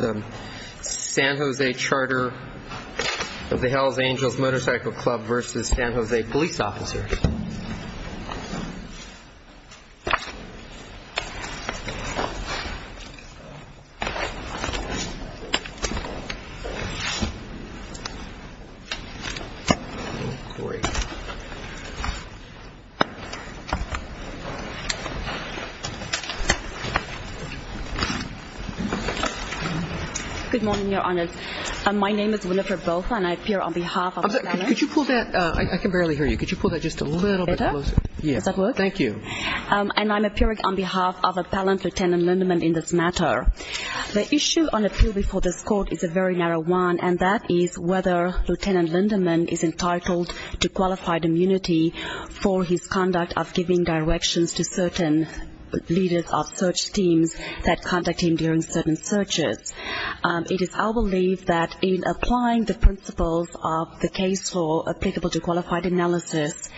v. San Jose Police Officers. Good morning, Your Honor. My name is Wilifer Bofa and I appear on behalf of the planner. Could you pull that? I can barely hear you. Could you pull that just a little bit closer? Better? Does that work? Thank you. And I'm appearing on behalf of Appellant Lieutenant Lindemann in this matter. The issue on appeal before this Court is a very narrow one, and that is whether Lieutenant Lindemann is entitled to qualified immunity for his conduct of giving directions to certain leaders of search teams that contact him during certain searches. It is our belief that in applying the principles of the case law applicable to qualified analysis,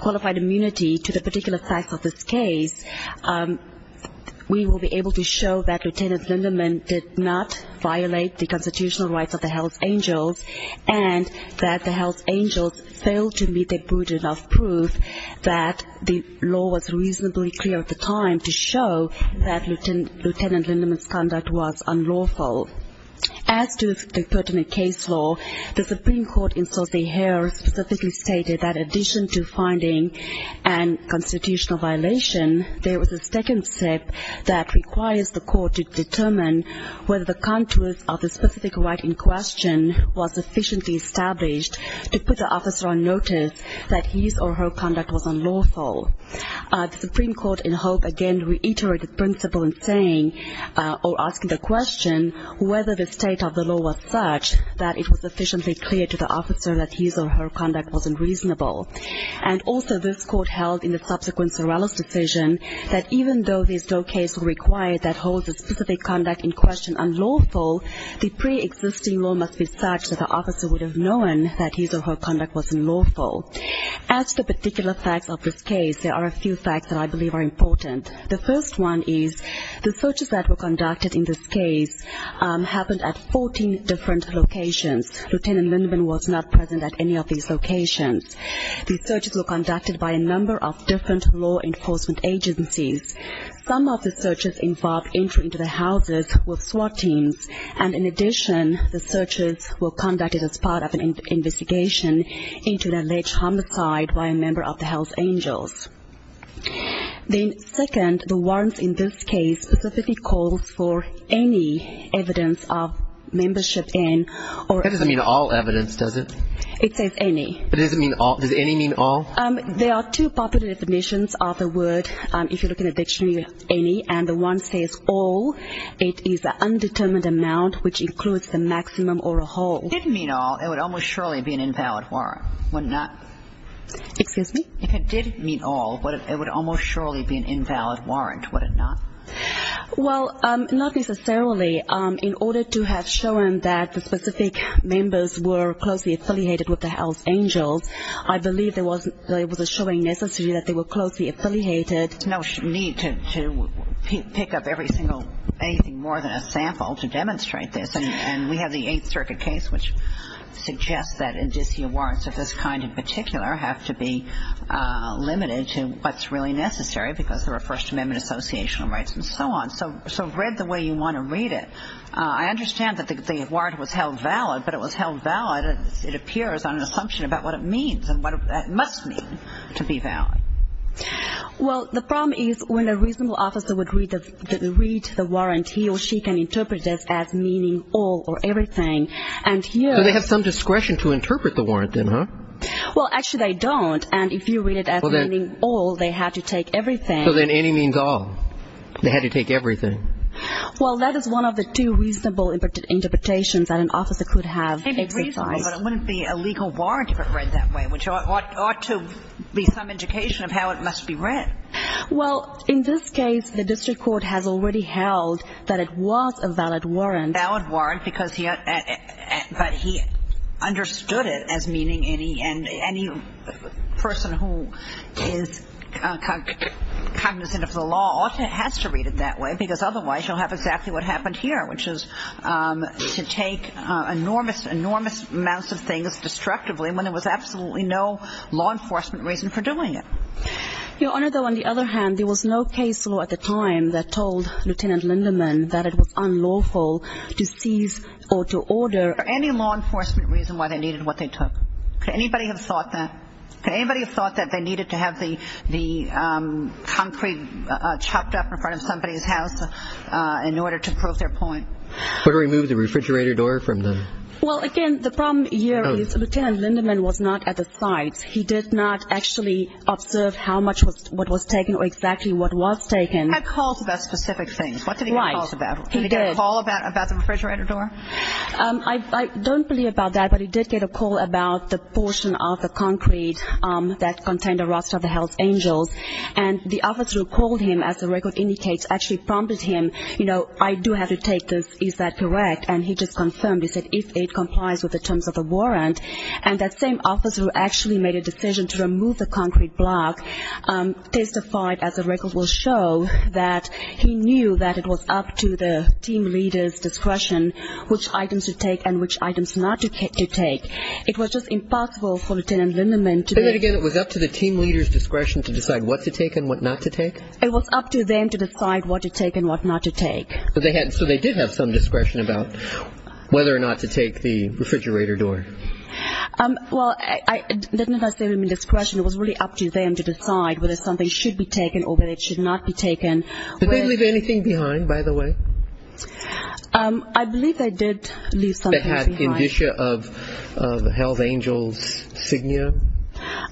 qualified immunity to the particular facts of this case, we will be able to show that Lieutenant Lindemann did not violate the constitutional rights of the Hells Angels and that the Hells Angels failed to meet their burden of proof that the law was reasonably clear at the time to show that Lieutenant Lindemann's conduct was unlawful. As to the pertinent case law, the Supreme Court in San Jose here specifically stated that in addition to finding a constitutional violation, there was a second step that requires the Court to determine whether the contours of the specific right in question was sufficiently established to put the officer on notice that his or her conduct was unlawful. The Supreme Court in Hope again reiterated the principle in saying, or asking the question, whether the state of the law was such that it was sufficiently clear to the officer that his or her conduct was unreasonable. And also this Court held in the subsequent Sorello's decision that even though this Doe case was required that holds the specific conduct in question unlawful, the pre-existing law must be such that the officer would have known that his or her conduct was unlawful. As to the particular facts of this case, there are a few facts that I believe are important. The first one is the searches that were conducted in this case happened at 14 different locations. Lieutenant Lindemann was not present at any of these locations. The searches were conducted by a number of different law enforcement agencies. Some of the searches involved entry into the houses with SWAT teams. And in addition, the searches were conducted as part of an investigation into an alleged homicide by a member of the Hells Angels. Then second, the warrants in this case specifically calls for any evidence of membership in or... That doesn't mean all evidence, does it? It says any. It doesn't mean all. Does any mean all? There are two popular definitions of the word, if you look in a dictionary, any. And the one says all. It is the undetermined amount which includes the maximum or a whole. If it didn't mean all, it would almost surely be an invalid warrant, would it not? Excuse me? If it did mean all, it would almost surely be an invalid warrant, would it not? Well, not necessarily. In order to have shown that the specific members were closely affiliated with the Hells Angels, I believe there was a showing necessary that they were closely affiliated. There's no need to pick up anything more than a sample to demonstrate this. And we have the Eighth Circuit case, which suggests that indicia warrants of this kind in particular have to be limited to what's really necessary because there are First Amendment associational rights and so on. So read the way you want to read it. I understand that the warrant was held valid, but it was held valid, it appears, on an assumption about what it means and what it must mean to be valid. Well, the problem is when a reasonable officer would read the warrant, he or she can interpret it as meaning all or everything. So they have some discretion to interpret the warrant then, huh? Well, actually they don't. And if you read it as meaning all, they have to take everything. So then any means all. They had to take everything. Well, that is one of the two reasonable interpretations that an officer could have exercised. But it wouldn't be a legal warrant if it read that way, which ought to be some indication of how it must be read. Well, in this case, the district court has already held that it was a valid warrant. Valid warrant because he understood it as meaning any person who is cognizant of the law ought to have to read it that way because otherwise you'll have exactly what happened here, which is to take enormous, enormous amounts of things destructively when there was absolutely no law enforcement reason for doing it. Your Honor, though, on the other hand, there was no case law at the time that told Lieutenant Lindemann that it was unlawful to seize or to order. Any law enforcement reason why they needed what they took. Could anybody have thought that? Could anybody have thought that they needed to have the concrete chopped up in front of somebody's house in order to prove their point? Or remove the refrigerator door from the- Well, again, the problem here is Lieutenant Lindemann was not at the site. He did not actually observe how much what was taken or exactly what was taken. He had calls about specific things. What did he get calls about? He did. Did he get a call about the refrigerator door? I don't believe about that, but he did get a call about the portion of the concrete that contained a roster of the Hell's Angels. And the officer who called him, as the record indicates, actually prompted him, you know, I do have to take this. Is that correct? And he just confirmed. He said, if it complies with the terms of the warrant. And that same officer who actually made a decision to remove the concrete block testified, as the record will show, that he knew that it was up to the team leader's discretion which items to take and which items not to take. It was just impossible for Lieutenant Lindemann to- Say that again. It was up to the team leader's discretion to decide what to take and what not to take? It was up to them to decide what to take and what not to take. So they did have some discretion about whether or not to take the refrigerator door. Well, I didn't necessarily mean discretion. It was really up to them to decide whether something should be taken or whether it should not be taken. Did they leave anything behind, by the way? I believe they did leave something behind.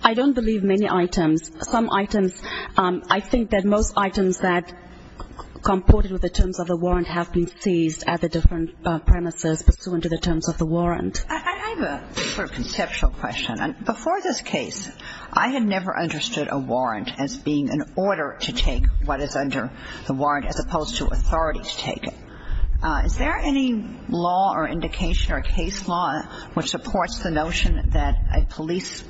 I don't believe many items. Some items, I think that most items that comported with the terms of the warrant have been seized at the different premises pursuant to the terms of the warrant. I have a sort of conceptual question. Before this case, I had never understood a warrant as being an order to take what is under the warrant, as opposed to authority to take it. Is there any law or indication or case law which supports the notion that a police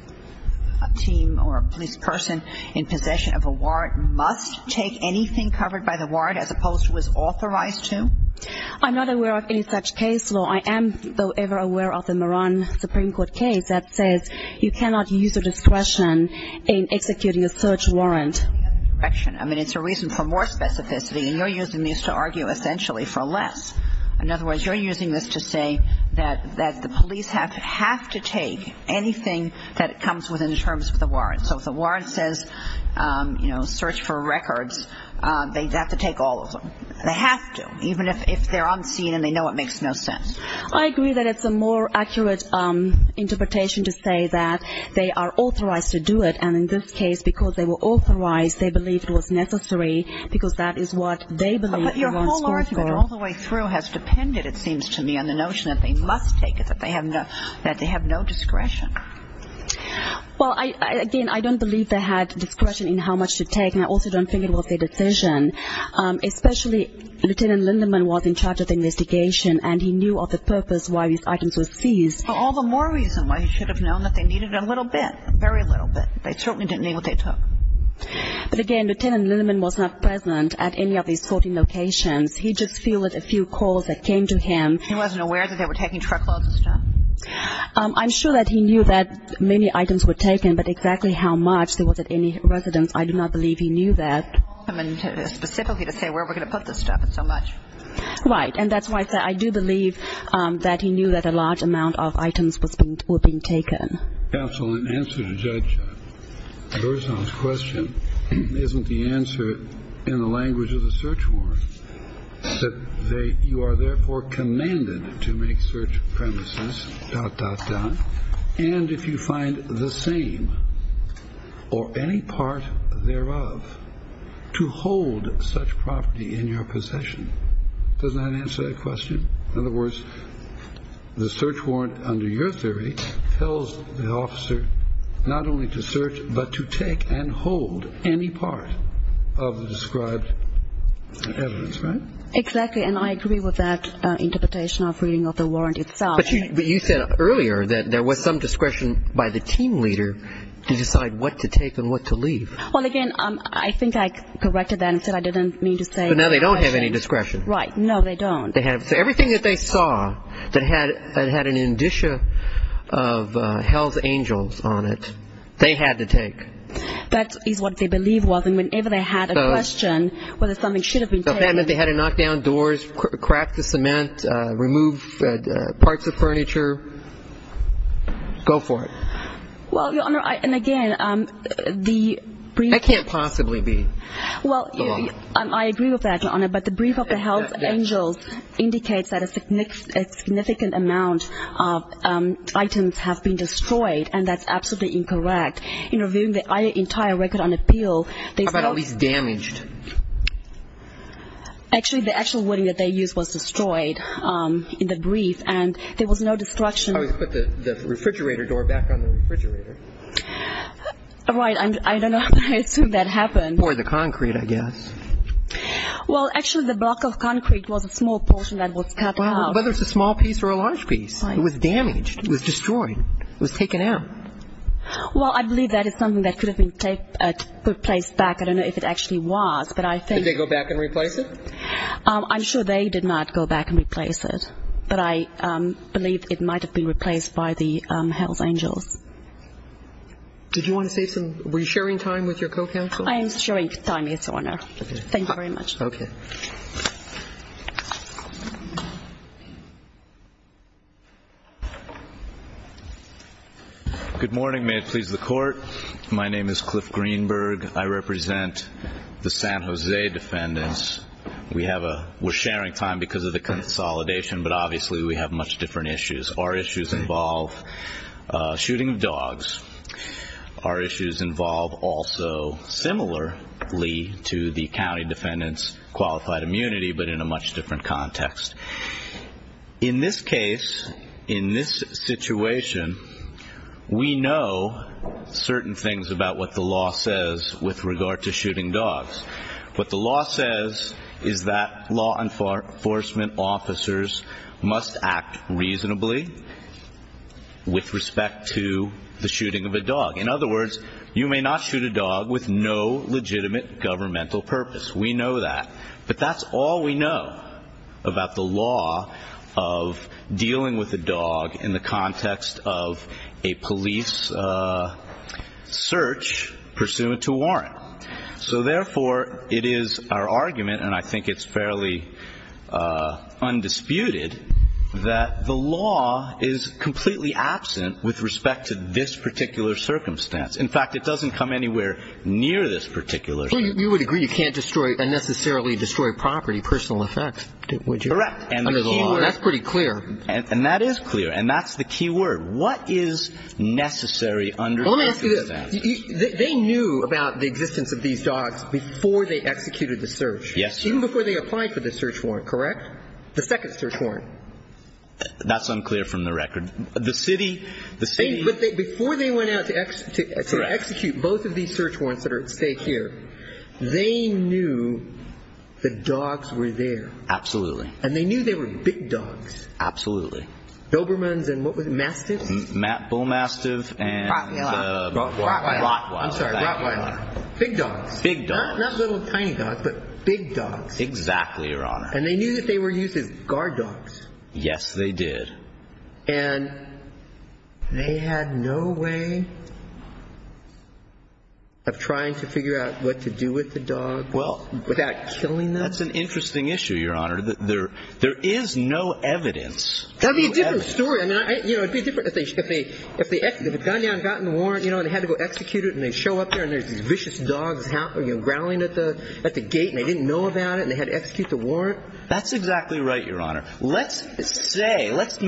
team or a police person in possession of a warrant must take anything covered by the warrant, as opposed to what's authorized to? I'm not aware of any such case law. I am, though, ever aware of the Moran Supreme Court case that says you cannot use your discretion in executing a search warrant. I mean, it's a reason for more specificity, and you're using these to argue essentially for less. In other words, you're using this to say that the police have to take anything that comes within the terms of the warrant. So if the warrant says, you know, search for records, they have to take all of them. They have to, even if they're unseen and they know it makes no sense. I agree that it's a more accurate interpretation to say that they are authorized to do it, and in this case, because they were authorized, they believed it was necessary because that is what they believed the warrant was for. But your whole argument all the way through has depended, it seems to me, on the notion that they must take it, that they have no discretion. Well, again, I don't believe they had discretion in how much to take, and I also don't think it was their decision. Especially Lieutenant Lindemann was in charge of the investigation, and he knew of the purpose why these items were seized. All the more reason why he should have known that they needed a little bit, a very little bit. They certainly didn't need what they took. But, again, Lieutenant Lindemann was not present at any of these sorting locations. He just fielded a few calls that came to him. He wasn't aware that they were taking truckloads of stuff? I'm sure that he knew that many items were taken, but exactly how much there was at any residence, I do not believe he knew that. I mean, specifically to say where we're going to put this stuff, it's so much. Right, and that's why I do believe that he knew that a large amount of items were being taken. Counsel, in answer to Judge Berzon's question, isn't the answer in the language of the search warrant that you are therefore commanded to make search premises, dot, dot, dot, and if you find the same or any part thereof to hold such property in your possession? Does that answer that question? In other words, the search warrant under your theory tells the officer not only to search but to take and hold any part of the described evidence, right? Exactly, and I agree with that interpretation of reading of the warrant itself. But you said earlier that there was some discretion by the team leader to decide what to take and what to leave. Well, again, I think I corrected that and said I didn't mean to say discretion. But now they don't have any discretion. Right, no, they don't. So everything that they saw that had an indicia of hell's angels on it, they had to take. That is what they believe was, and whenever they had a question whether something should have been taken. That meant they had to knock down doors, crack the cement, remove parts of furniture. Go for it. Well, Your Honor, and again, the brief. That can't possibly be. Well, I agree with that, Your Honor, but the brief of the hell's angels indicates that a significant amount of items have been destroyed, and that's absolutely incorrect. In reviewing the entire record on appeal. How about at least damaged? Actually, the actual wood that they used was destroyed in the brief, and there was no destruction. I would put the refrigerator door back on the refrigerator. Right, I don't know how I assumed that happened. Or the concrete, I guess. Well, actually, the block of concrete was a small portion that was cut out. Whether it's a small piece or a large piece, it was damaged. It was destroyed. It was taken out. Well, I believe that is something that could have been replaced back. I don't know if it actually was, but I think. Did they go back and replace it? I'm sure they did not go back and replace it, but I believe it might have been replaced by the hell's angels. Did you want to say something? Were you sharing time with your co-counsel? I am sharing time, yes, Your Honor. Thank you very much. Okay. Good morning. May it please the Court. My name is Cliff Greenberg. I represent the San Jose defendants. We're sharing time because of the consolidation, but obviously we have much different issues. Our issues involve shooting dogs. Our issues involve also similarly to the county defendants qualified immunity, but in a much different context. In this case, in this situation, we know certain things about what the law says with regard to shooting dogs. What the law says is that law enforcement officers must act reasonably with respect to the shooting of a dog. In other words, you may not shoot a dog with no legitimate governmental purpose. We know that. But that's all we know about the law of dealing with a dog in the context of a police search pursuant to warrant. So therefore, it is our argument, and I think it's fairly undisputed, that the law is completely absent with respect to this particular circumstance. In fact, it doesn't come anywhere near this particular circumstance. Well, you would agree you can't destroy, unnecessarily destroy property, personal effects, would you? Correct. Under the law. That's pretty clear. And that is clear. And that's the key word. What is necessary under this circumstance? Well, let me ask you this. They knew about the existence of these dogs before they executed the search. Yes, sir. Even before they applied for the search warrant, correct? The second search warrant. That's unclear from the record. The city, the city... But before they went out to execute both of these search warrants that are at stake here, they knew the dogs were there. Absolutely. And they knew they were big dogs. Absolutely. Dobermans and what was it, Mastiff? Bull Mastiff and... Rottweiler. Rottweiler. I'm sorry, Rottweiler. Big dogs. Big dogs. Not little tiny dogs, but big dogs. Exactly, Your Honor. And they knew that they were used as guard dogs. Yes, they did. And they had no way of trying to figure out what to do with the dogs without killing them? That's an interesting issue, Your Honor. There is no evidence. That would be a different story. If they had gone down and gotten the warrant and they had to go execute it and they show up there and there's these vicious dogs growling at the gate and they didn't know about it and they had to execute the warrant. That's exactly right, Your Honor. Let's say, let's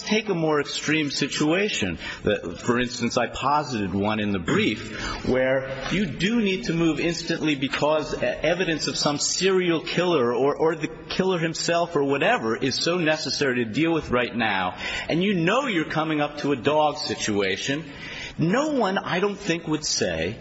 take a more extreme situation. For instance, I posited one in the brief where you do need to move instantly because evidence of some serial killer or the killer himself or whatever is so necessary to deal with right now. And you know you're coming up to a dog situation. No one I don't think would say,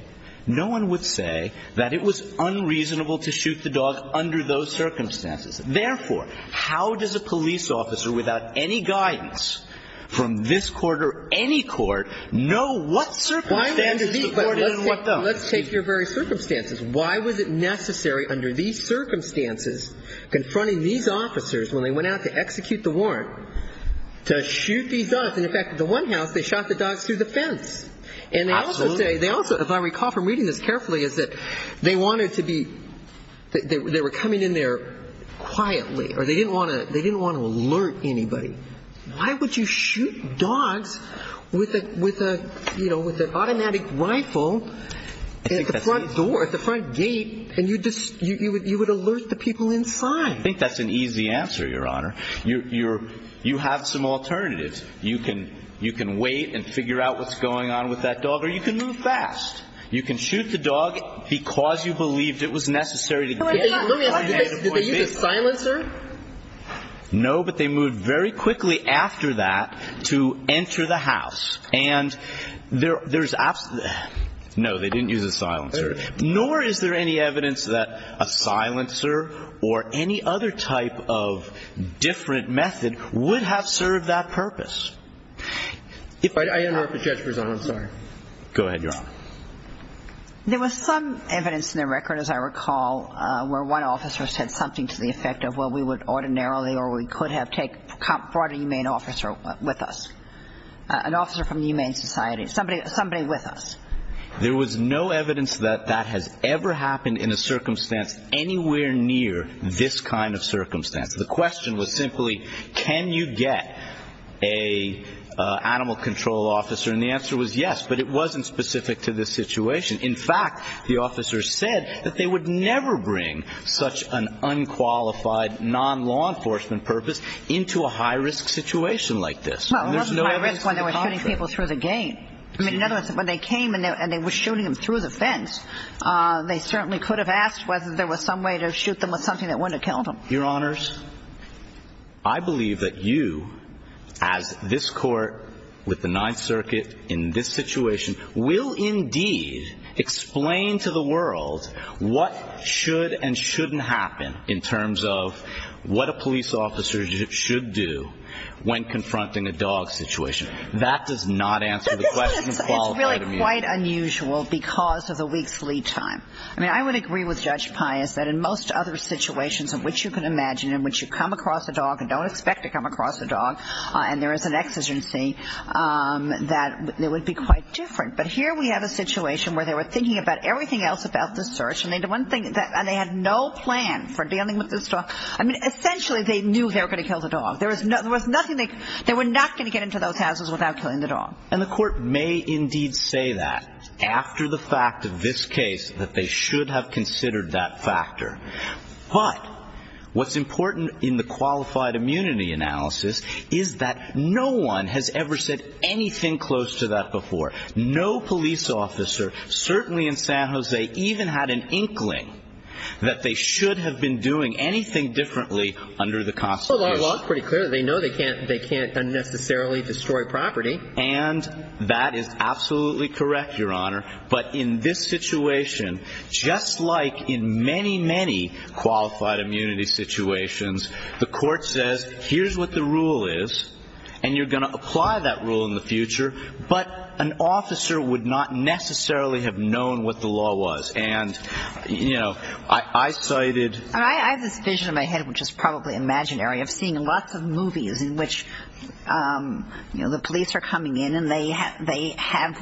no one would say that it was unreasonable to shoot the dog under those circumstances. Therefore, how does a police officer without any guidance from this court or any court know what circumstances the court did and what don't? Let's take your very circumstances. Why was it necessary under these circumstances confronting these officers when they went out to execute the warrant to shoot these dogs? And in fact, at the one house, they shot the dogs through the fence. Absolutely. And they also say, they also, if I recall from reading this carefully, is that they wanted to be, they were coming in there quietly or they didn't want to alert anybody. Why would you shoot dogs with a, with a, you know, with an automatic rifle at the front door, at the front gate? And you just, you would alert the people inside. I think that's an easy answer, Your Honor. You're, you're, you have some alternatives. You can, you can wait and figure out what's going on with that dog or you can move fast. You can shoot the dog because you believed it was necessary. Did they use a silencer? No, but they moved very quickly after that to enter the house. And there, there's, no, they didn't use a silencer. Nor is there any evidence that a silencer or any other type of different method would have served that purpose. If I, I don't know if the judge was on, I'm sorry. Go ahead, Your Honor. There was some evidence in the record, as I recall, where one officer said something to the effect of, well, we would ordinarily or we could have take, brought a humane officer with us. An officer from the Humane Society. Somebody, somebody with us. There was no evidence that that has ever happened in a circumstance anywhere near this kind of circumstance. The question was simply, can you get a animal control officer? And the answer was yes, but it wasn't specific to this situation. In fact, the officer said that they would never bring such an unqualified non-law enforcement purpose into a high-risk situation like this. Well, it wasn't high-risk when they were shooting people through the gate. I mean, in other words, when they came and they were shooting them through the fence, they certainly could have asked whether there was some way to shoot them with something that wouldn't have killed them. Your Honors, I believe that you, as this Court with the Ninth Circuit in this situation, will indeed explain to the world what should and shouldn't happen in terms of what a police officer should do when confronting a dog situation. That does not answer the question of qualified immunity. It's really quite unusual because of the week's lead time. I mean, I would agree with Judge Pius that in most other situations in which you can imagine, in which you come across a dog and don't expect to come across a dog, and there is an exigency, that it would be quite different. But here we have a situation where they were thinking about everything else about this search, and they had no plan for dealing with this dog. I mean, essentially, they knew they were going to kill the dog. There was nothing they could do. They were not going to get into those houses without killing the dog. And the Court may indeed say that after the fact of this case, that they should have considered that factor. But what's important in the qualified immunity analysis is that no one has ever said anything close to that before. No police officer, certainly in San Jose, even had an inkling that they should have been doing anything differently under the Constitution. Well, our law is pretty clear. They know they can't unnecessarily destroy property. And that is absolutely correct, Your Honor. But in this situation, just like in many, many qualified immunity situations, the Court says here's what the rule is, and you're going to apply that rule in the future, but an officer would not necessarily have known what the law was. And, you know, I cited – I have this vision in my head, which is probably imaginary, of seeing lots of movies in which, you know, the police are coming in and they have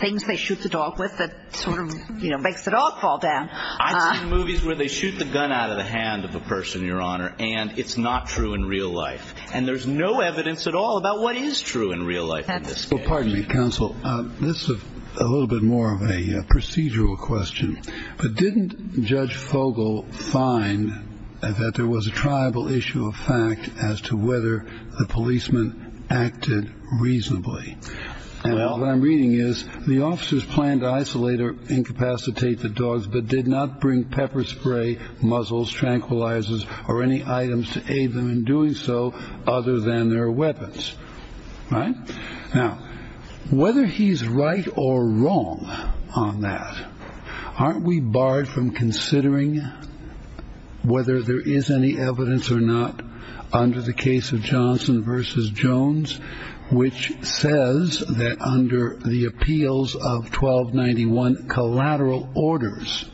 things they shoot the dog with that sort of, you know, makes the dog fall down. I've seen movies where they shoot the gun out of the hand of a person, Your Honor, and it's not true in real life. And there's no evidence at all about what is true in real life in this case. Well, pardon me, Counsel. This is a little bit more of a procedural question. But didn't Judge Fogel find that there was a tribal issue of fact as to whether the policeman acted reasonably? And all that I'm reading is the officers planned to isolate or incapacitate the dogs but did not bring pepper spray, muzzles, tranquilizers, or any items to aid them in doing so other than their weapons. Right? Now, whether he's right or wrong on that, aren't we barred from considering whether there is any evidence or not under the case of Johnson v. Jones, which says that under the appeals of 1291 collateral orders,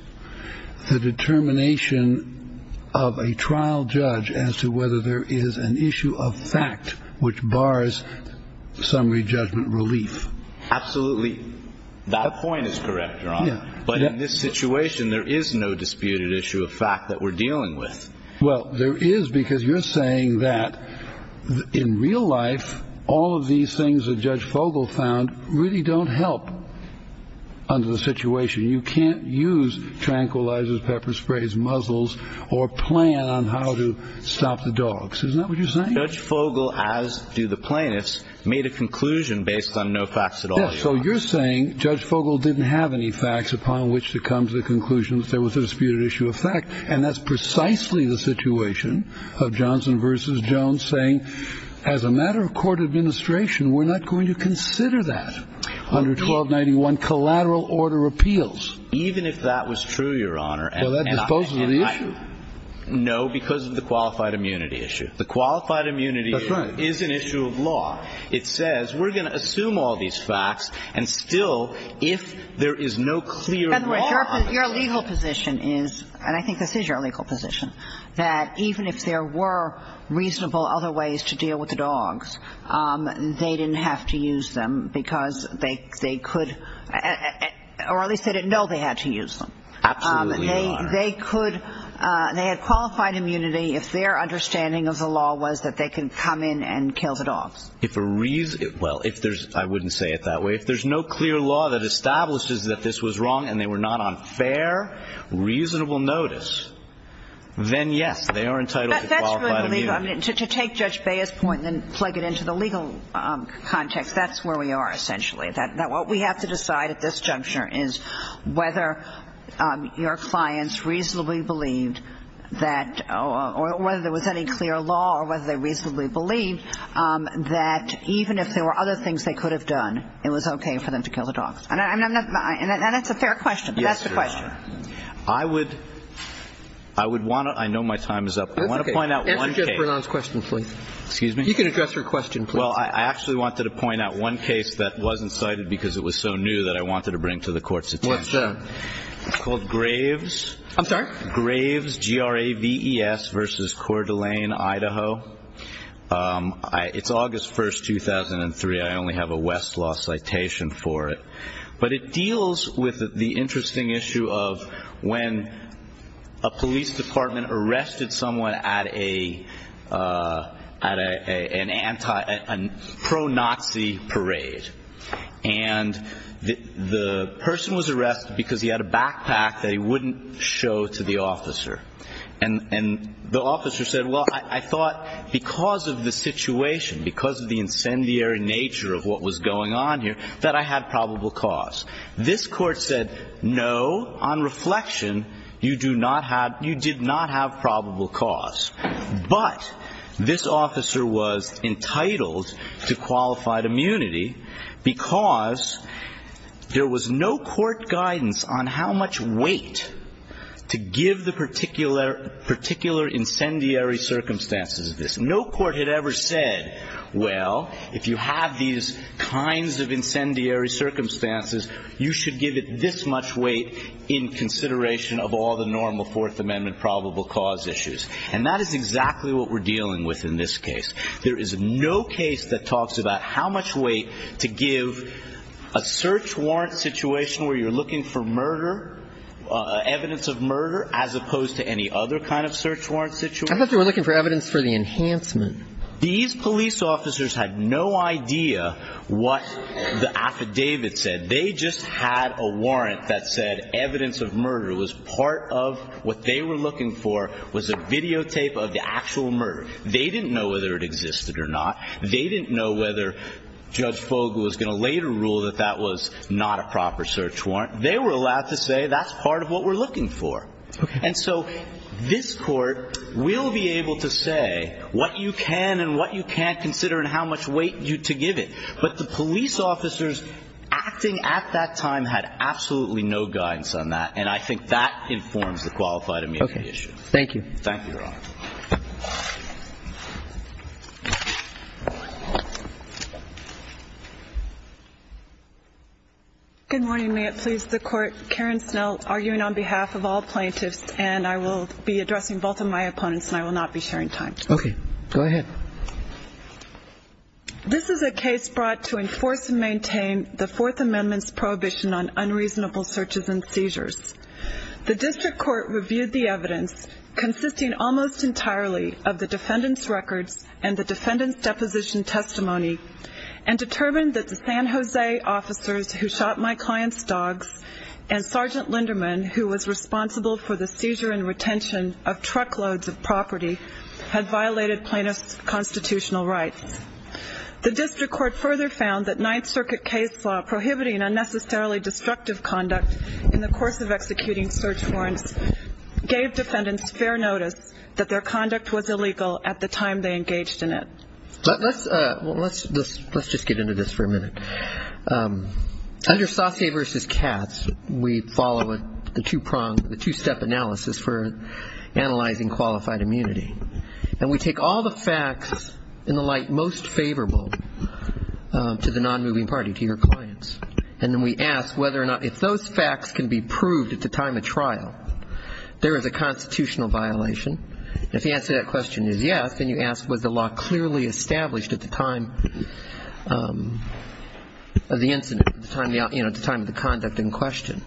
the determination of a trial judge as to whether there is an issue of fact which bars summary judgment relief? Absolutely. That point is correct, Your Honor. But in this situation, there is no disputed issue of fact that we're dealing with. Well, there is because you're saying that in real life, all of these things that Judge Fogel found really don't help under the situation. You can't use tranquilizers, pepper sprays, muzzles, or plan on how to stop the dogs. Isn't that what you're saying? Judge Fogel, as do the plaintiffs, made a conclusion based on no facts at all, Your Honor. Yes. So you're saying Judge Fogel didn't have any facts upon which to come to the conclusion that there was a disputed issue of fact. And that's precisely the situation of Johnson v. Jones saying as a matter of court administration, we're not going to consider that under 1291 collateral order appeals. Even if that was true, Your Honor. Well, that disposes of the issue. No, because of the qualified immunity issue. The qualified immunity is an issue of law. It says we're going to assume all these facts, and still, if there is no clear law on it. Your legal position is, and I think this is your legal position, that even if there were reasonable other ways to deal with the dogs, they didn't have to use them because they could, or at least they didn't know they had to use them. Absolutely, Your Honor. They could, they had qualified immunity if their understanding of the law was that they can come in and kill the dogs. If a reason, well, if there's, I wouldn't say it that way, if there's no clear law that establishes that this was wrong and they were not on fair, reasonable notice, then yes, they are entitled to qualified immunity. To take Judge Bea's point and then plug it into the legal context, that's where we are essentially, that what we have to decide at this juncture is whether your clients reasonably believed that, or whether there was any clear law or whether they reasonably believed that even if there were other things they could have done, it was okay for them to kill the dogs. And that's a fair question, but that's the question. Yes, Your Honor. I would want to, I know my time is up. I want to point out one case. Answer Judge Bernon's question, please. Excuse me? You can address your question, please. Well, I actually wanted to point out one case that wasn't cited because it was so new that I wanted to bring to the Court's attention. What's that? It's called Graves. I'm sorry? Graves, G-R-A-V-E-S versus Coeur d'Alene, Idaho. It's August 1st, 2003. I only have a Westlaw citation for it. But it deals with the interesting issue of when a police department arrested someone at a pro-Nazi parade, and the person was arrested because he had a backpack that he wouldn't show to the officer. And the officer said, well, I thought because of the situation, because of the incendiary nature of what was going on here, that I had probable cause. This court said, no, on reflection, you do not have, you did not have probable cause. But this officer was entitled to qualified immunity because there was no court guidance on how much weight to give the particular incendiary circumstances of this. No court had ever said, well, if you have these kinds of incendiary circumstances, you should give it this much weight in consideration of all the normal Fourth Amendment probable cause issues. And that is exactly what we're dealing with in this case. There is no case that talks about how much weight to give a search warrant situation where you're looking for murder, evidence of murder, as opposed to any other kind of search warrant situation. I thought they were looking for evidence for the enhancement. These police officers had no idea what the affidavit said. They just had a warrant that said evidence of murder was part of what they were looking for, was a videotape of the actual murder. They didn't know whether it existed or not. They didn't know whether Judge Fogle was going to later rule that that was not a proper search warrant. They were allowed to say that's part of what we're looking for. And so this Court will be able to say what you can and what you can't consider and how much weight to give it. But the police officers acting at that time had absolutely no guidance on that, and I think that informs the qualified amendment issue. Thank you. Thank you, Your Honor. Good morning. May it please the Court. Karen Snell arguing on behalf of all plaintiffs, and I will be addressing both of my opponents and I will not be sharing time. Okay. Go ahead. This is a case brought to enforce and maintain the Fourth Amendment's prohibition on unreasonable searches and seizures. The district court reviewed the evidence consisting almost entirely of the defendant's record and the defendant's deposition testimony and determined that the San Jose officers who shot my client's dogs and Sergeant Linderman, who was responsible for the seizure and retention of truckloads of property, had violated plaintiffs' constitutional rights. The district court further found that Ninth Circuit case law prohibiting unnecessarily destructive conduct in the course of executing search warrants gave defendants fair notice that their conduct was illegal at the time they engaged in it. Let's just get into this for a minute. Under Sase v. Katz, we follow the two-step analysis for analyzing qualified immunity, and we take all the facts in the light most favorable to the non-moving party, to your clients, and then we ask whether or not, if those facts can be proved at the time of trial, there is a constitutional violation. If the answer to that question is yes, then you ask was the law clearly established at the time of the incident, at the time of the conduct in question.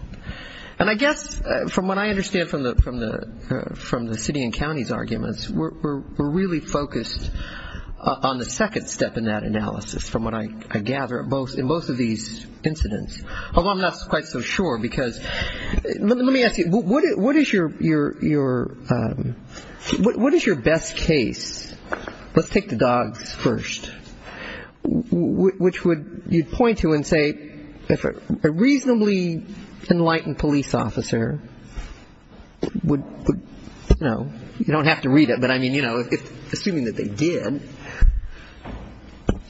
And I guess from what I understand from the city and county's arguments, we're really focused on the second step in that analysis. From what I gather in both of these incidents, although I'm not quite so sure, because let me ask you, what is your best case? Let's take the dogs first, which you'd point to and say, if a reasonably enlightened police officer would, you know, you don't have to read it, but I mean, you know, assuming that they did,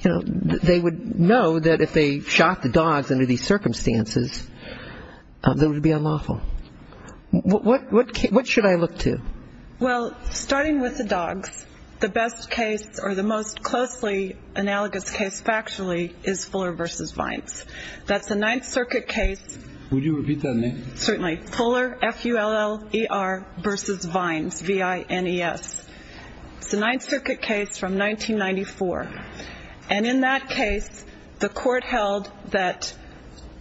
you know, they would know that if they shot the dogs under these circumstances, that it would be unlawful. What should I look to? Well, starting with the dogs, the best case, or the most closely analogous case factually, is Fuller v. Vines. That's a Ninth Circuit case. Would you repeat that name? Certainly. Fuller, F-U-L-L-E-R, versus Vines, V-I-N-E-S. It's a Ninth Circuit case from 1994. And in that case, the court held that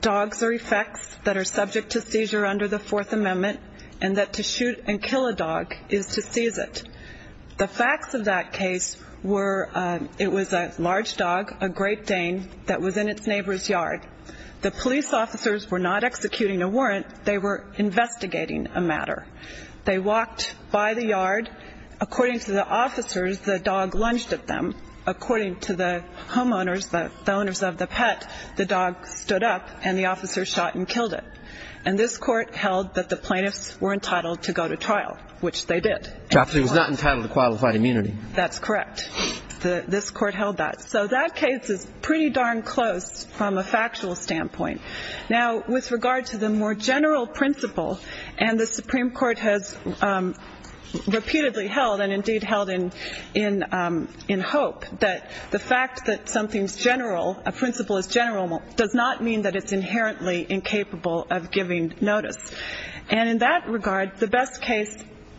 dogs are effects that are subject to seizure under the Fourth Amendment and that to shoot and kill a dog is to seize it. The facts of that case were it was a large dog, a Great Dane, that was in its neighbor's yard. The police officers were not executing a warrant. They were investigating a matter. They walked by the yard. According to the officers, the dog lunged at them. According to the homeowners, the owners of the pet, the dog stood up and the officers shot and killed it. And this court held that the plaintiffs were entitled to go to trial, which they did. But it was not entitled to qualified immunity. That's correct. This court held that. So that case is pretty darn close from a factual standpoint. Now, with regard to the more general principle, and the Supreme Court has repeatedly held and indeed held in hope that the fact that something's general, a principle is general, does not mean that it's inherently incapable of giving notice. And in that regard, the best case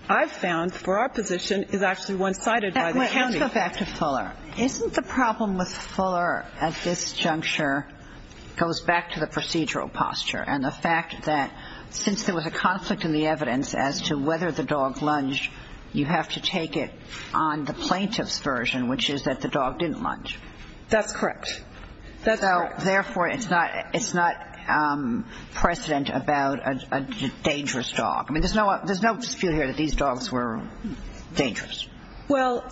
I've found for our position is actually one cited by the county. Let's go back to Fuller. Isn't the problem with Fuller at this juncture goes back to the procedural posture and the fact that since there was a conflict in the evidence as to whether the dog lunged, you have to take it on the plaintiff's version, which is that the dog didn't lunge. That's correct. Therefore, it's not precedent about a dangerous dog. I mean, there's no dispute here that these dogs were dangerous. Well,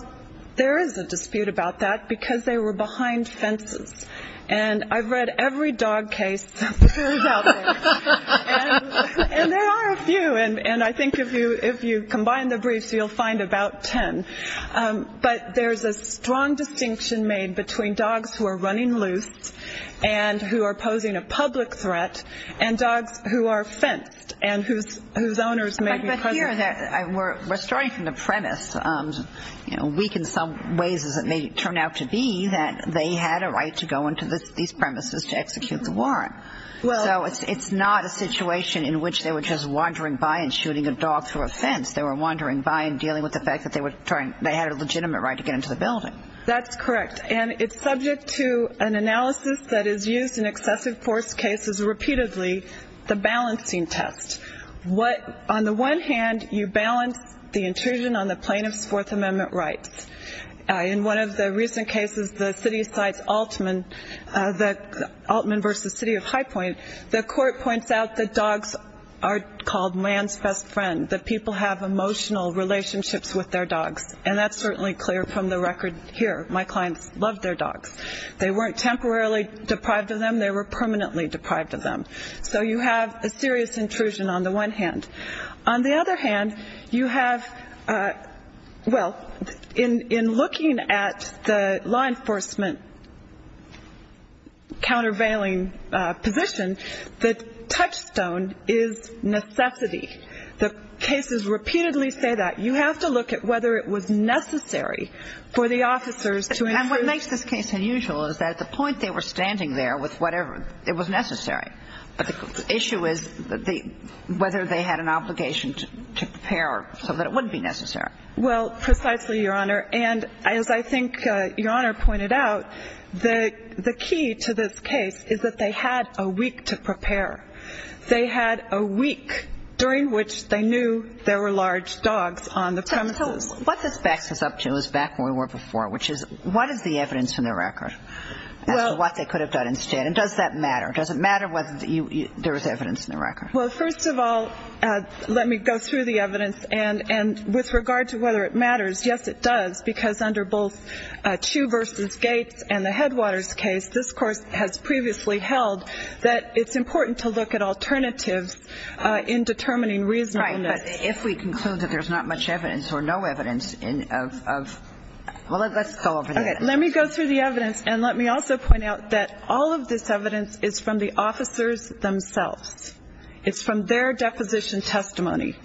there is a dispute about that because they were behind fences. And I've read every dog case out there, and there are a few. And I think if you combine the briefs, you'll find about ten. But there's a strong distinction made between dogs who are running loose and who are posing a public threat and dogs who are fenced and whose owners may be present. We're starting from the premise, weak in some ways as it may turn out to be, that they had a right to go into these premises to execute the warrant. So it's not a situation in which they were just wandering by and shooting a dog through a fence. They were wandering by and dealing with the fact that they had a legitimate right to get into the building. That's correct. And it's subject to an analysis that is used in excessive force cases repeatedly, the balancing test. On the one hand, you balance the intrusion on the plaintiff's Fourth Amendment rights. In one of the recent cases, the city cites Altman, Altman v. City of High Point. The court points out that dogs are called man's best friend, that people have emotional relationships with their dogs. And that's certainly clear from the record here. My clients love their dogs. They weren't temporarily deprived of them. They were permanently deprived of them. So you have a serious intrusion on the one hand. On the other hand, you have, well, in looking at the law enforcement countervailing position, the touchstone is necessity. The cases repeatedly say that. You have to look at whether it was necessary for the officers to intrude. And what makes this case unusual is that at the point they were standing there with whatever, it was necessary. But the issue is whether they had an obligation to prepare so that it wouldn't be necessary. Well, precisely, Your Honor. And as I think Your Honor pointed out, the key to this case is that they had a week to prepare. They had a week during which they knew there were large dogs on the premises. What this backs us up to is back where we were before, which is what is the evidence in the record as to what they could have done instead? And does that matter? Does it matter whether there was evidence in the record? Well, first of all, let me go through the evidence. And with regard to whether it matters, yes, it does. Because under both Chiu v. Gates and the Headwaters case, this Court has previously held that it's important to look at alternatives in determining reasonableness. Right. But if we conclude that there's not much evidence or no evidence of – well, let's go over that. Okay. Well, let me go through the evidence. And let me also point out that all of this evidence is from the officers themselves. It's from their deposition testimony.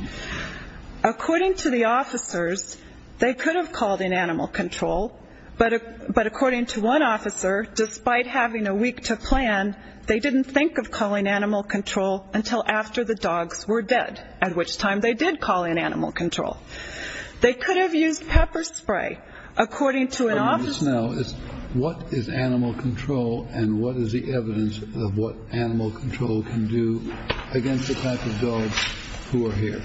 According to the officers, they could have called in animal control. But according to one officer, despite having a week to plan, they didn't think of calling animal control until after the dogs were dead, at which time they did call in animal control. They could have used pepper spray. According to an officer – Tell me this now. What is animal control, and what is the evidence of what animal control can do against the type of dogs who are here?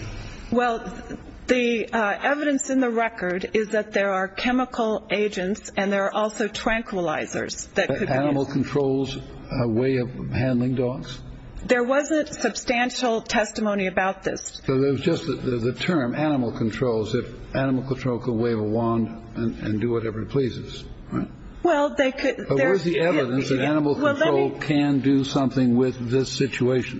Well, the evidence in the record is that there are chemical agents, and there are also tranquilizers that could be used. But animal control's a way of handling dogs? There wasn't substantial testimony about this. So it was just the term, animal control, is if animal control could wave a wand and do whatever it pleases, right? Well, they could – But where's the evidence that animal control can do something with this situation?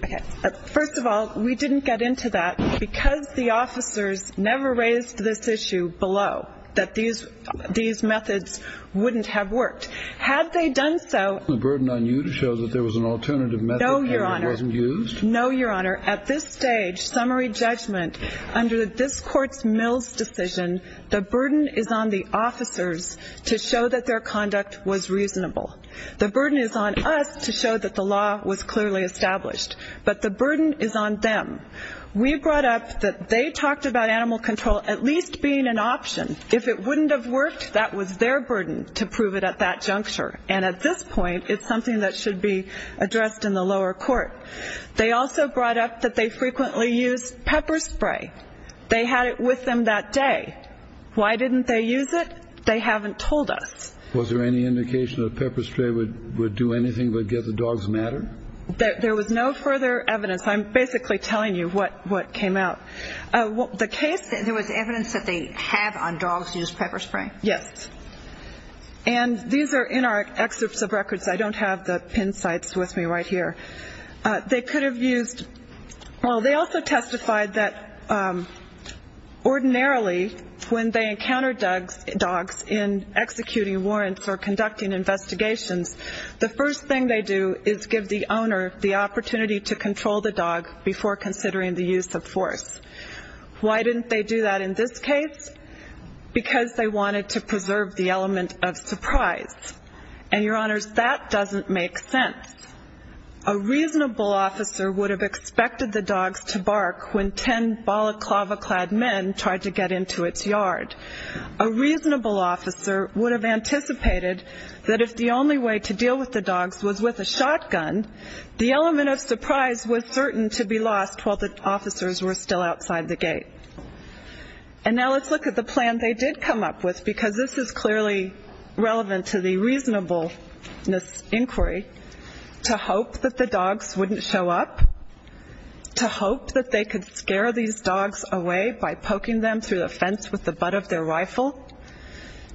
First of all, we didn't get into that because the officers never raised this issue below, that these methods wouldn't have worked. Had they done so – The burden on you to show that there was an alternative method and it wasn't used? No, Your Honor. At this stage, summary judgment, under this Court's Mills decision, the burden is on the officers to show that their conduct was reasonable. The burden is on us to show that the law was clearly established. But the burden is on them. We brought up that they talked about animal control at least being an option. If it wouldn't have worked, that was their burden to prove it at that juncture. And at this point, it's something that should be addressed in the lower court. They also brought up that they frequently used pepper spray. They had it with them that day. Why didn't they use it? They haven't told us. Was there any indication that pepper spray would do anything but get the dogs madder? There was no further evidence. I'm basically telling you what came out. The case – There was evidence that they have, on dogs, used pepper spray. Yes. And these are in our excerpts of records. I don't have the pin sites with me right here. They could have used – well, they also testified that ordinarily, when they encounter dogs in executing warrants or conducting investigations, the first thing they do is give the owner the opportunity to control the dog before considering the use of force. Why didn't they do that in this case? Because they wanted to preserve the element of surprise. And, Your Honors, that doesn't make sense. A reasonable officer would have expected the dogs to bark when ten balaclava-clad men tried to get into its yard. A reasonable officer would have anticipated that if the only way to deal with the dogs was with a shotgun, the element of surprise was certain to be lost while the officers were still outside the gate. And now let's look at the plan they did come up with, because this is clearly relevant to the reasonableness inquiry, to hope that the dogs wouldn't show up, to hope that they could scare these dogs away by poking them through the fence with the butt of their rifle,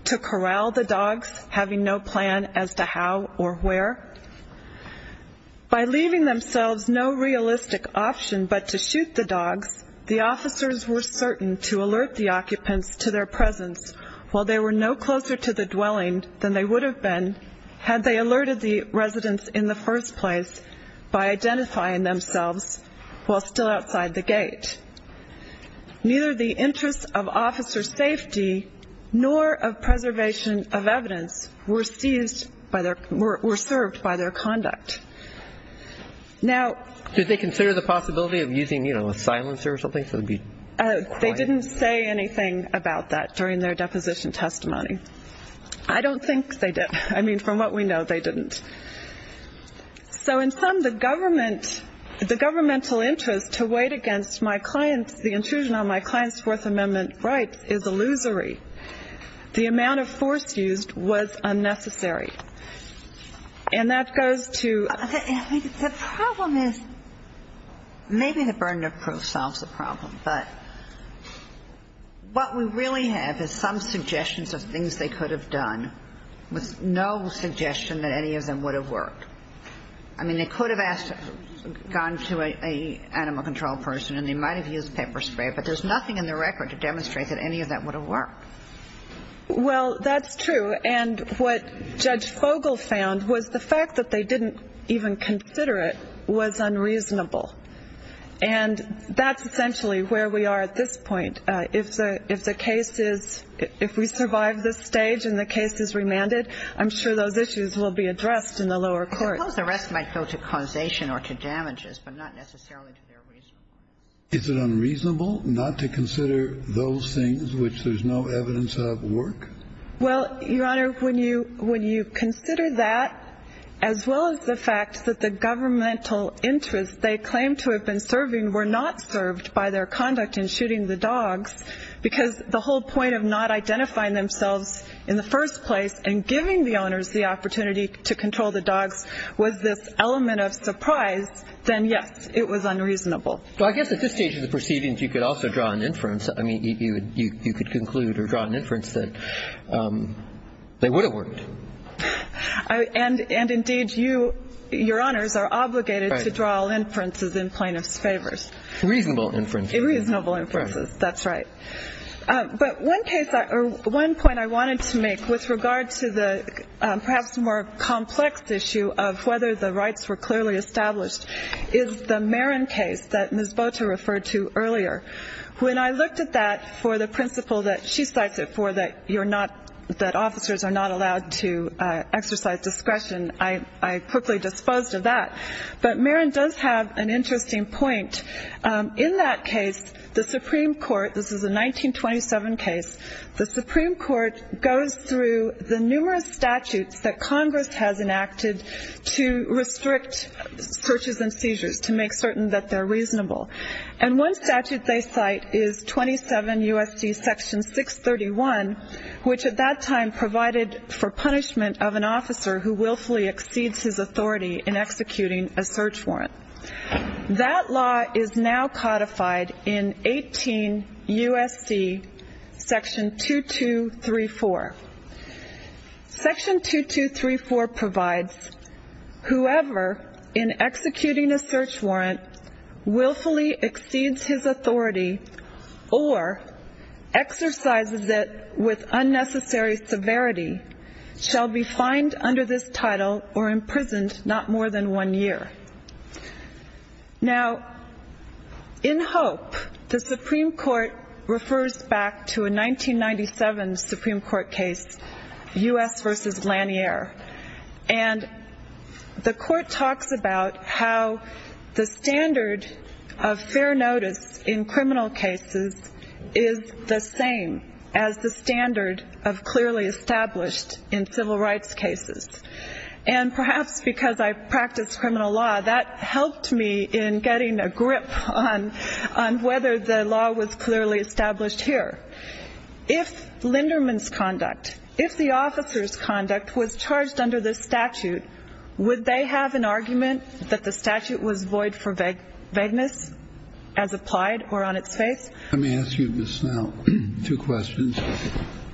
to corral the dogs having no plan as to how or where. By leaving themselves no realistic option but to shoot the dogs, the officers were certain to alert the occupants to their presence while they were no closer to the dwelling than they would have been had they alerted the residents in the first place by identifying themselves while still outside the gate. Neither the interests of officer safety nor of preservation of evidence were served by their conduct. Did they consider the possibility of using a silencer or something? They didn't say anything about that during their deposition testimony. I don't think they did. I mean, from what we know, they didn't. So in sum, the governmental interest to wait against the intrusion on my client's Fourth Amendment rights is illusory. The amount of force used was unnecessary. And that goes to... The problem is maybe the burden of proof solves the problem, but what we really have is some suggestions of things they could have done with no suggestion that any of them would have worked. I mean, they could have gone to an animal control person and they might have used pepper spray, but there's nothing in the record to demonstrate that any of that would have worked. Well, that's true. And what Judge Fogle found was the fact that they didn't even consider it was unreasonable. And that's essentially where we are at this point. If the case is... If we survive this stage and the case is remanded, I'm sure those issues will be addressed in the lower court. I suppose the rest might go to causation or to damages, but not necessarily to their reason. Is it unreasonable not to consider those things which there's no evidence of work? Well, Your Honor, when you consider that, as well as the fact that the governmental interests they claim to have been serving were not served by their conduct in shooting the dogs, because the whole point of not identifying themselves in the first place and giving the owners the opportunity to control the dogs was this element of surprise, then, yes, it was unreasonable. Well, I guess at this stage of the proceedings you could also draw an inference. I mean, you could conclude or draw an inference that they would have worked. And, indeed, you, Your Honors, are obligated to draw inferences in plaintiffs' favors. Reasonable inferences. Reasonable inferences. That's right. But one point I wanted to make with regard to the perhaps more complex issue of whether the rights were clearly established is the Marin case that Ms. Boter referred to earlier. When I looked at that for the principle that she cites it for, that officers are not allowed to exercise discretion, I quickly disposed of that. But Marin does have an interesting point. In that case, the Supreme Court, this is a 1927 case, the Supreme Court goes through the numerous statutes that Congress has enacted to restrict searches and seizures, to make certain that they're reasonable. And one statute they cite is 27 U.S.C. Section 631, which at that time provided for punishment of an officer who willfully exceeds his authority in executing a search warrant. That law is now codified in 18 U.S.C. Section 2234. Section 2234 provides whoever in executing a search warrant willfully exceeds his authority or exercises it with unnecessary severity shall be fined under this title or imprisoned not more than one year. Now, in Hope, the Supreme Court refers back to a 1997 Supreme Court case, U.S. v. Lanier. And the court talks about how the standard of fair notice in criminal cases is the same as the standard of clearly established in civil rights cases. And perhaps because I practice criminal law, that helped me in getting a grip on whether the law was clearly established here. If Linderman's conduct, if the officer's conduct was charged under this statute, would they have an argument that the statute was void for vagueness as applied or on its face? Let me ask you, Ms. Snell, two questions.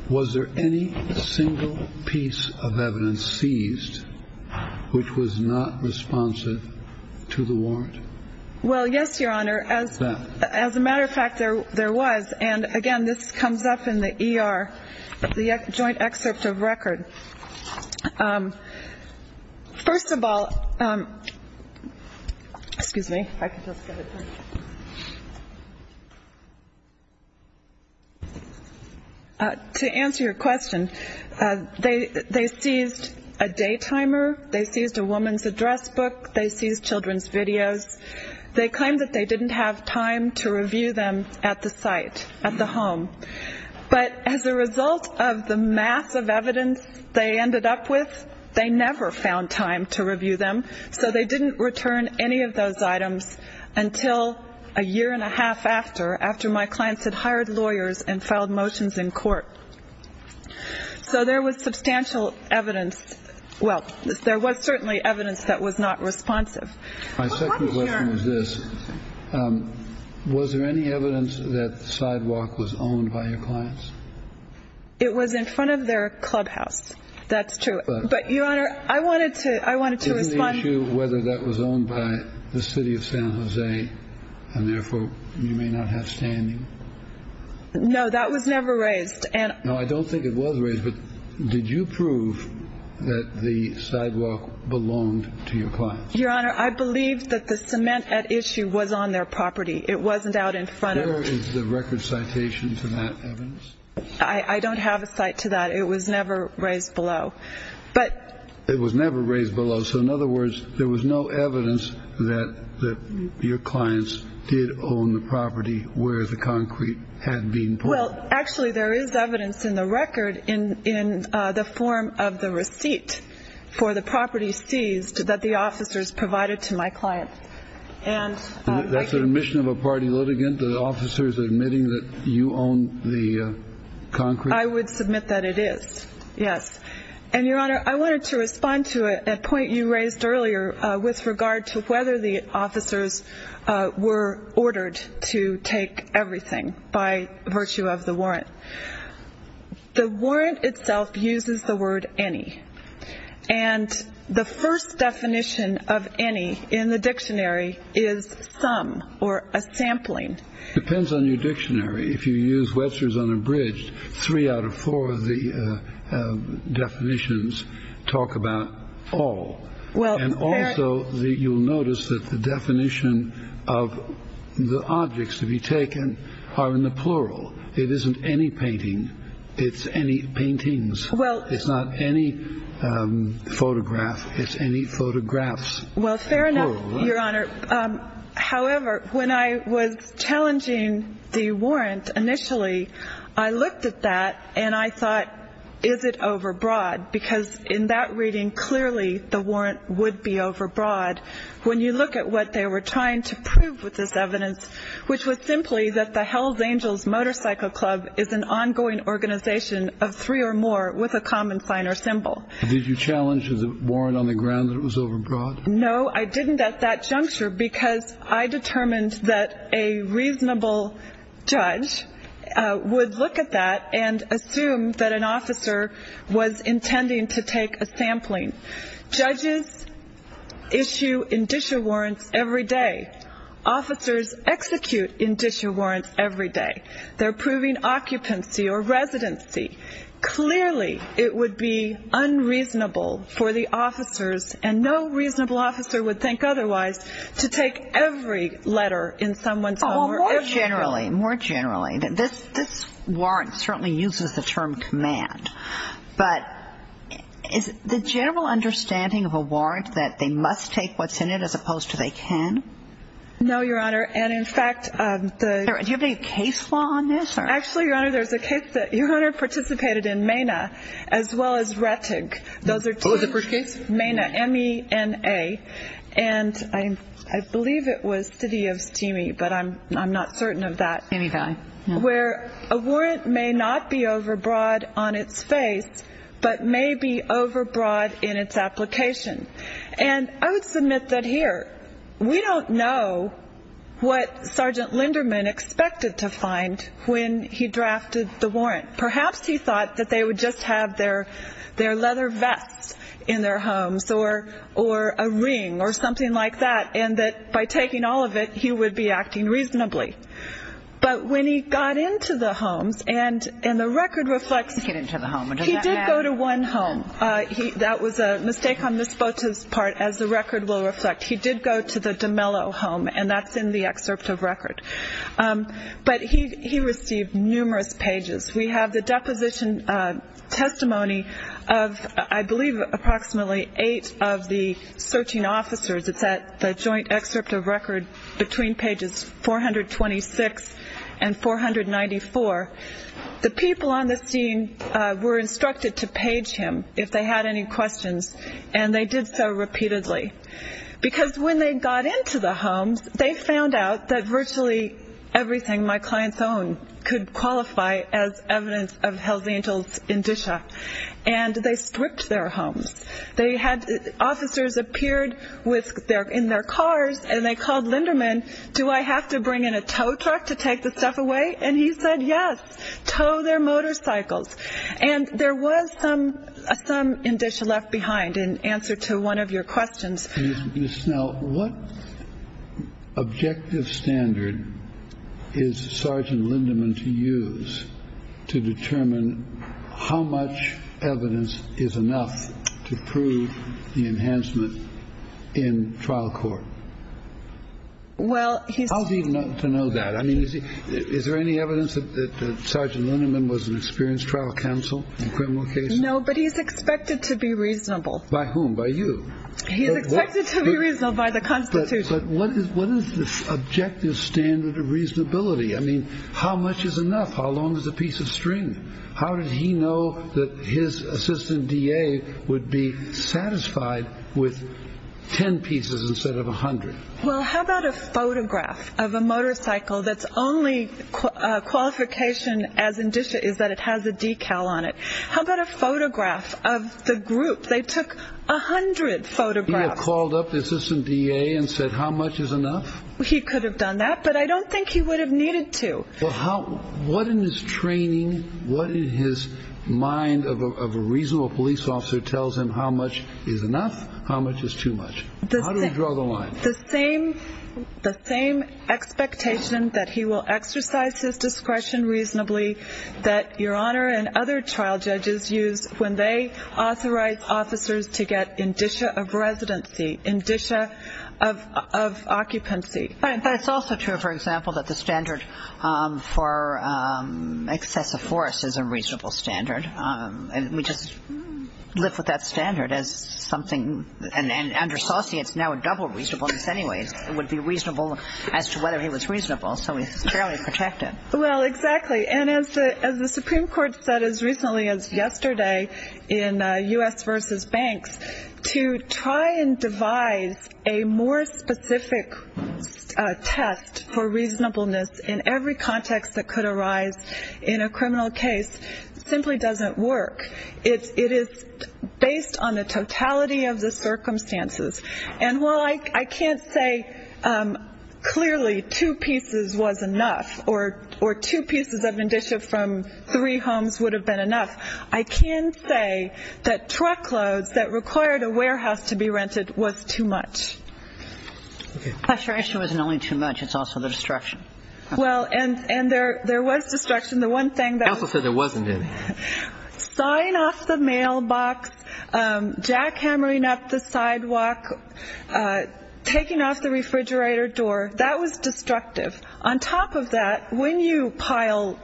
Was there any single piece of evidence seized which was not responsive to the warrant? Well, yes, Your Honor. As a matter of fact, there was. And, again, this comes up in the ER, the joint excerpt of record. First of all, excuse me. If I could just get a question. To answer your question, they seized a day timer. They seized a woman's address book. They seized children's videos. They claimed that they didn't have time to review them at the site, at the home. But as a result of the massive evidence they ended up with, they never found time to review them. So they didn't return any of those items until a year and a half after, after my clients had hired lawyers and filed motions in court. So there was substantial evidence. Well, there was certainly evidence that was not responsive. My second question is this. Was there any evidence that the sidewalk was owned by your clients? It was in front of their clubhouse. That's true. But, Your Honor, I wanted to respond. Is there any issue whether that was owned by the city of San Jose and, therefore, you may not have standing? No, that was never raised. No, I don't think it was raised. But did you prove that the sidewalk belonged to your clients? Your Honor, I believe that the cement at issue was on their property. It wasn't out in front of them. Where is the record citation for that evidence? I don't have a cite to that. It was never raised below. It was never raised below. So, in other words, there was no evidence that your clients did own the property where the concrete had been put. Well, actually, there is evidence in the record in the form of the receipt for the property seized that the officers provided to my clients. That's an admission of a party litigant, the officers admitting that you own the concrete? I would submit that it is, yes. And, Your Honor, I wanted to respond to a point you raised earlier with regard to whether the officers were ordered to take everything by virtue of the warrant. The warrant itself uses the word any. And the first definition of any in the dictionary is some or a sampling. It depends on your dictionary. If you use Wetzer's Unabridged, three out of four of the definitions talk about all. And also, you'll notice that the definition of the objects to be taken are in the plural. It isn't any painting. It's any paintings. It's not any photograph. It's any photographs. Well, fair enough, Your Honor. However, when I was challenging the warrant initially, I looked at that and I thought, is it overbroad? Because in that reading, clearly the warrant would be overbroad. When you look at what they were trying to prove with this evidence, which was simply that the Hells Angels Motorcycle Club is an ongoing organization of three or more with a common sign or symbol. Did you challenge the warrant on the ground that it was overbroad? No, I didn't at that juncture because I determined that a reasonable judge would look at that and assume that an officer was intending to take a sampling. Judges issue indicia warrants every day. Officers execute indicia warrants every day. They're proving occupancy or residency. Clearly, it would be unreasonable for the officers, and no reasonable officer would think otherwise, to take every letter in someone's home. More generally, more generally, this warrant certainly uses the term command, but is the general understanding of a warrant that they must take what's in it as opposed to they can? No, Your Honor, and in fact, the... Do you have any case law on this? Actually, Your Honor, there's a case that Your Honor participated in MENA as well as Rettig. Those are two. What was the first case? MENA, M-E-N-A, and I believe it was City of Steamy, but I'm not certain of that. Any value. Where a warrant may not be overbroad on its face, but may be overbroad in its application. And I would submit that here, we don't know what Sergeant Linderman expected to find when he drafted the warrant. Perhaps he thought that they would just have their leather vests in their homes or a ring or something like that, and that by taking all of it, he would be acting reasonably. But when he got into the homes, and the record reflects... He did get into the home. He did go to one home. That was a mistake on Ms. Bote's part, as the record will reflect. He did go to the DeMello home, and that's in the excerpt of record. But he received numerous pages. We have the deposition testimony of, I believe, approximately eight of the searching officers. It's at the joint excerpt of record between pages 426 and 494. The people on the scene were instructed to page him if they had any questions, and they did so repeatedly. Because when they got into the homes, they found out that virtually everything my clients owned could qualify as evidence of Hells Angels indicia, and they stripped their homes. They had officers appeared in their cars, and they called Linderman, do I have to bring in a tow truck to take the stuff away? And he said, yes, tow their motorcycles. And there was some indicia left behind in answer to one of your questions. Ms. Snell, what objective standard is Sergeant Linderman to use to determine how much evidence is enough to prove the enhancement in trial court? Well, how do you know that? I mean, is there any evidence that Sergeant Linderman was an experienced trial counsel in criminal cases? No, but he's expected to be reasonable. By whom? By you? He's expected to be reasonable by the Constitution. But what is the objective standard of reasonability? I mean, how much is enough? How long is a piece of string? How did he know that his assistant DA would be satisfied with 10 pieces instead of 100? Well, how about a photograph of a motorcycle that's only qualification as indicia is that it has a decal on it? How about a photograph of the group? They took 100 photographs. He had called up the assistant DA and said, how much is enough? He could have done that, but I don't think he would have needed to. Well, what in his training, what in his mind of a reasonable police officer tells him how much is enough, how much is too much? How do we draw the line? The same expectation that he will exercise his discretion reasonably that Your Honor and other trial judges use when they authorize officers to get indicia of residency, indicia of occupancy. But it's also true, for example, that the standard for excessive force is a reasonable standard. We just live with that standard as something. And under Saucy, it's now a double reasonableness anyways. It would be reasonable as to whether he was reasonable. So he's fairly protected. Well, exactly. And as the Supreme Court said as recently as yesterday in U.S. versus banks, to try and devise a more specific test for reasonableness in every context that could arise in a criminal case simply doesn't work. It is based on the totality of the circumstances. And while I can't say clearly two pieces was enough or two pieces of indicia from three homes would have been enough, I can say that truckloads that required a warehouse to be rented was too much. Okay. Pressurization wasn't only too much. It's also the destruction. Well, and there was destruction. The one thing that was. Counsel said there wasn't any. Sawing off the mailbox, jackhammering up the sidewalk, taking off the refrigerator door, that was destructive. On top of that, when you pile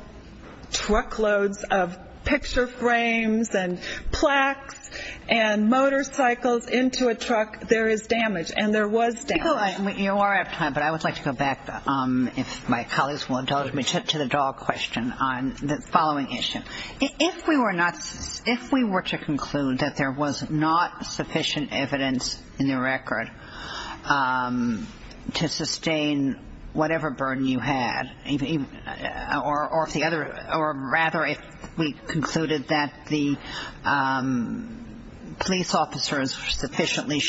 truckloads of picture frames and plaques and motorcycles into a truck, there is damage. And there was damage. You are out of time, but I would like to go back, if my colleagues will indulge me, to the dog question on the following issue. If we were to conclude that there was not sufficient evidence in the record to sustain whatever burden you had, or rather if we concluded that the police officers sufficiently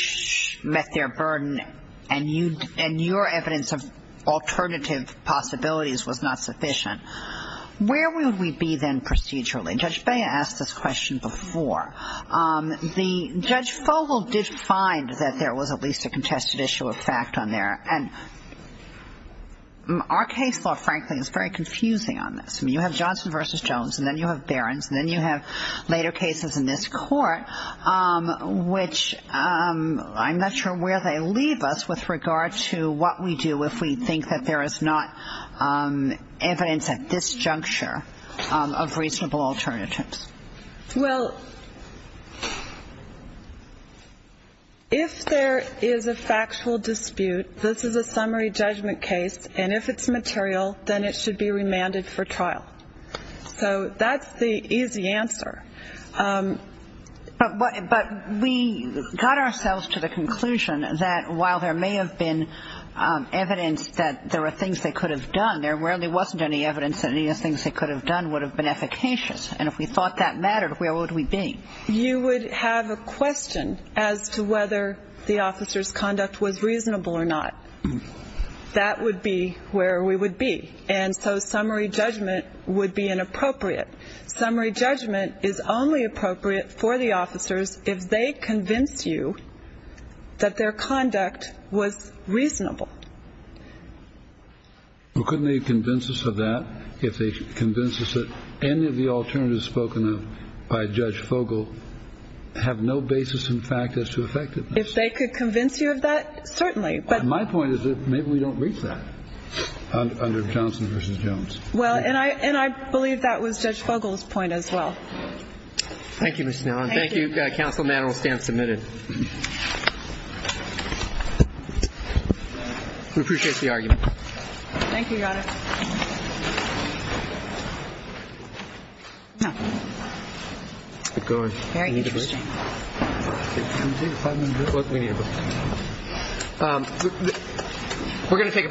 met their burden and your evidence of alternative possibilities was not sufficient, where would we be then procedurally? Judge Bea asked this question before. Judge Fogel did find that there was at least a contested issue of fact on there. And our case law, frankly, is very confusing on this. I mean, you have Johnson v. Jones, and then you have Barron's, and then you have later cases in this court, which I'm not sure where they leave us with regard to what we do if we think that there is not evidence at this juncture of reasonable alternatives. Well, if there is a factual dispute, this is a summary judgment case. And if it's material, then it should be remanded for trial. So that's the easy answer. But we got ourselves to the conclusion that while there may have been evidence that there were things they could have done, there really wasn't any evidence that any of the things they could have done would have been efficacious. And if we thought that mattered, where would we be? You would have a question as to whether the officer's conduct was reasonable or not. That would be where we would be. And so summary judgment would be inappropriate. Summary judgment is only appropriate for the officers if they convince you that their conduct was reasonable. Well, couldn't they convince us of that if they convinced us that any of the alternatives spoken of by Judge Fogel have no basis in fact as to effectiveness? If they could convince you of that, certainly. My point is that maybe we don't reach that under Johnson v. Jones. Well, and I believe that was Judge Fogel's point as well. Thank you, Ms. Snow. Thank you. Thank you, counsel. The matter will stand submitted. We appreciate the argument. Thank you, Your Honor.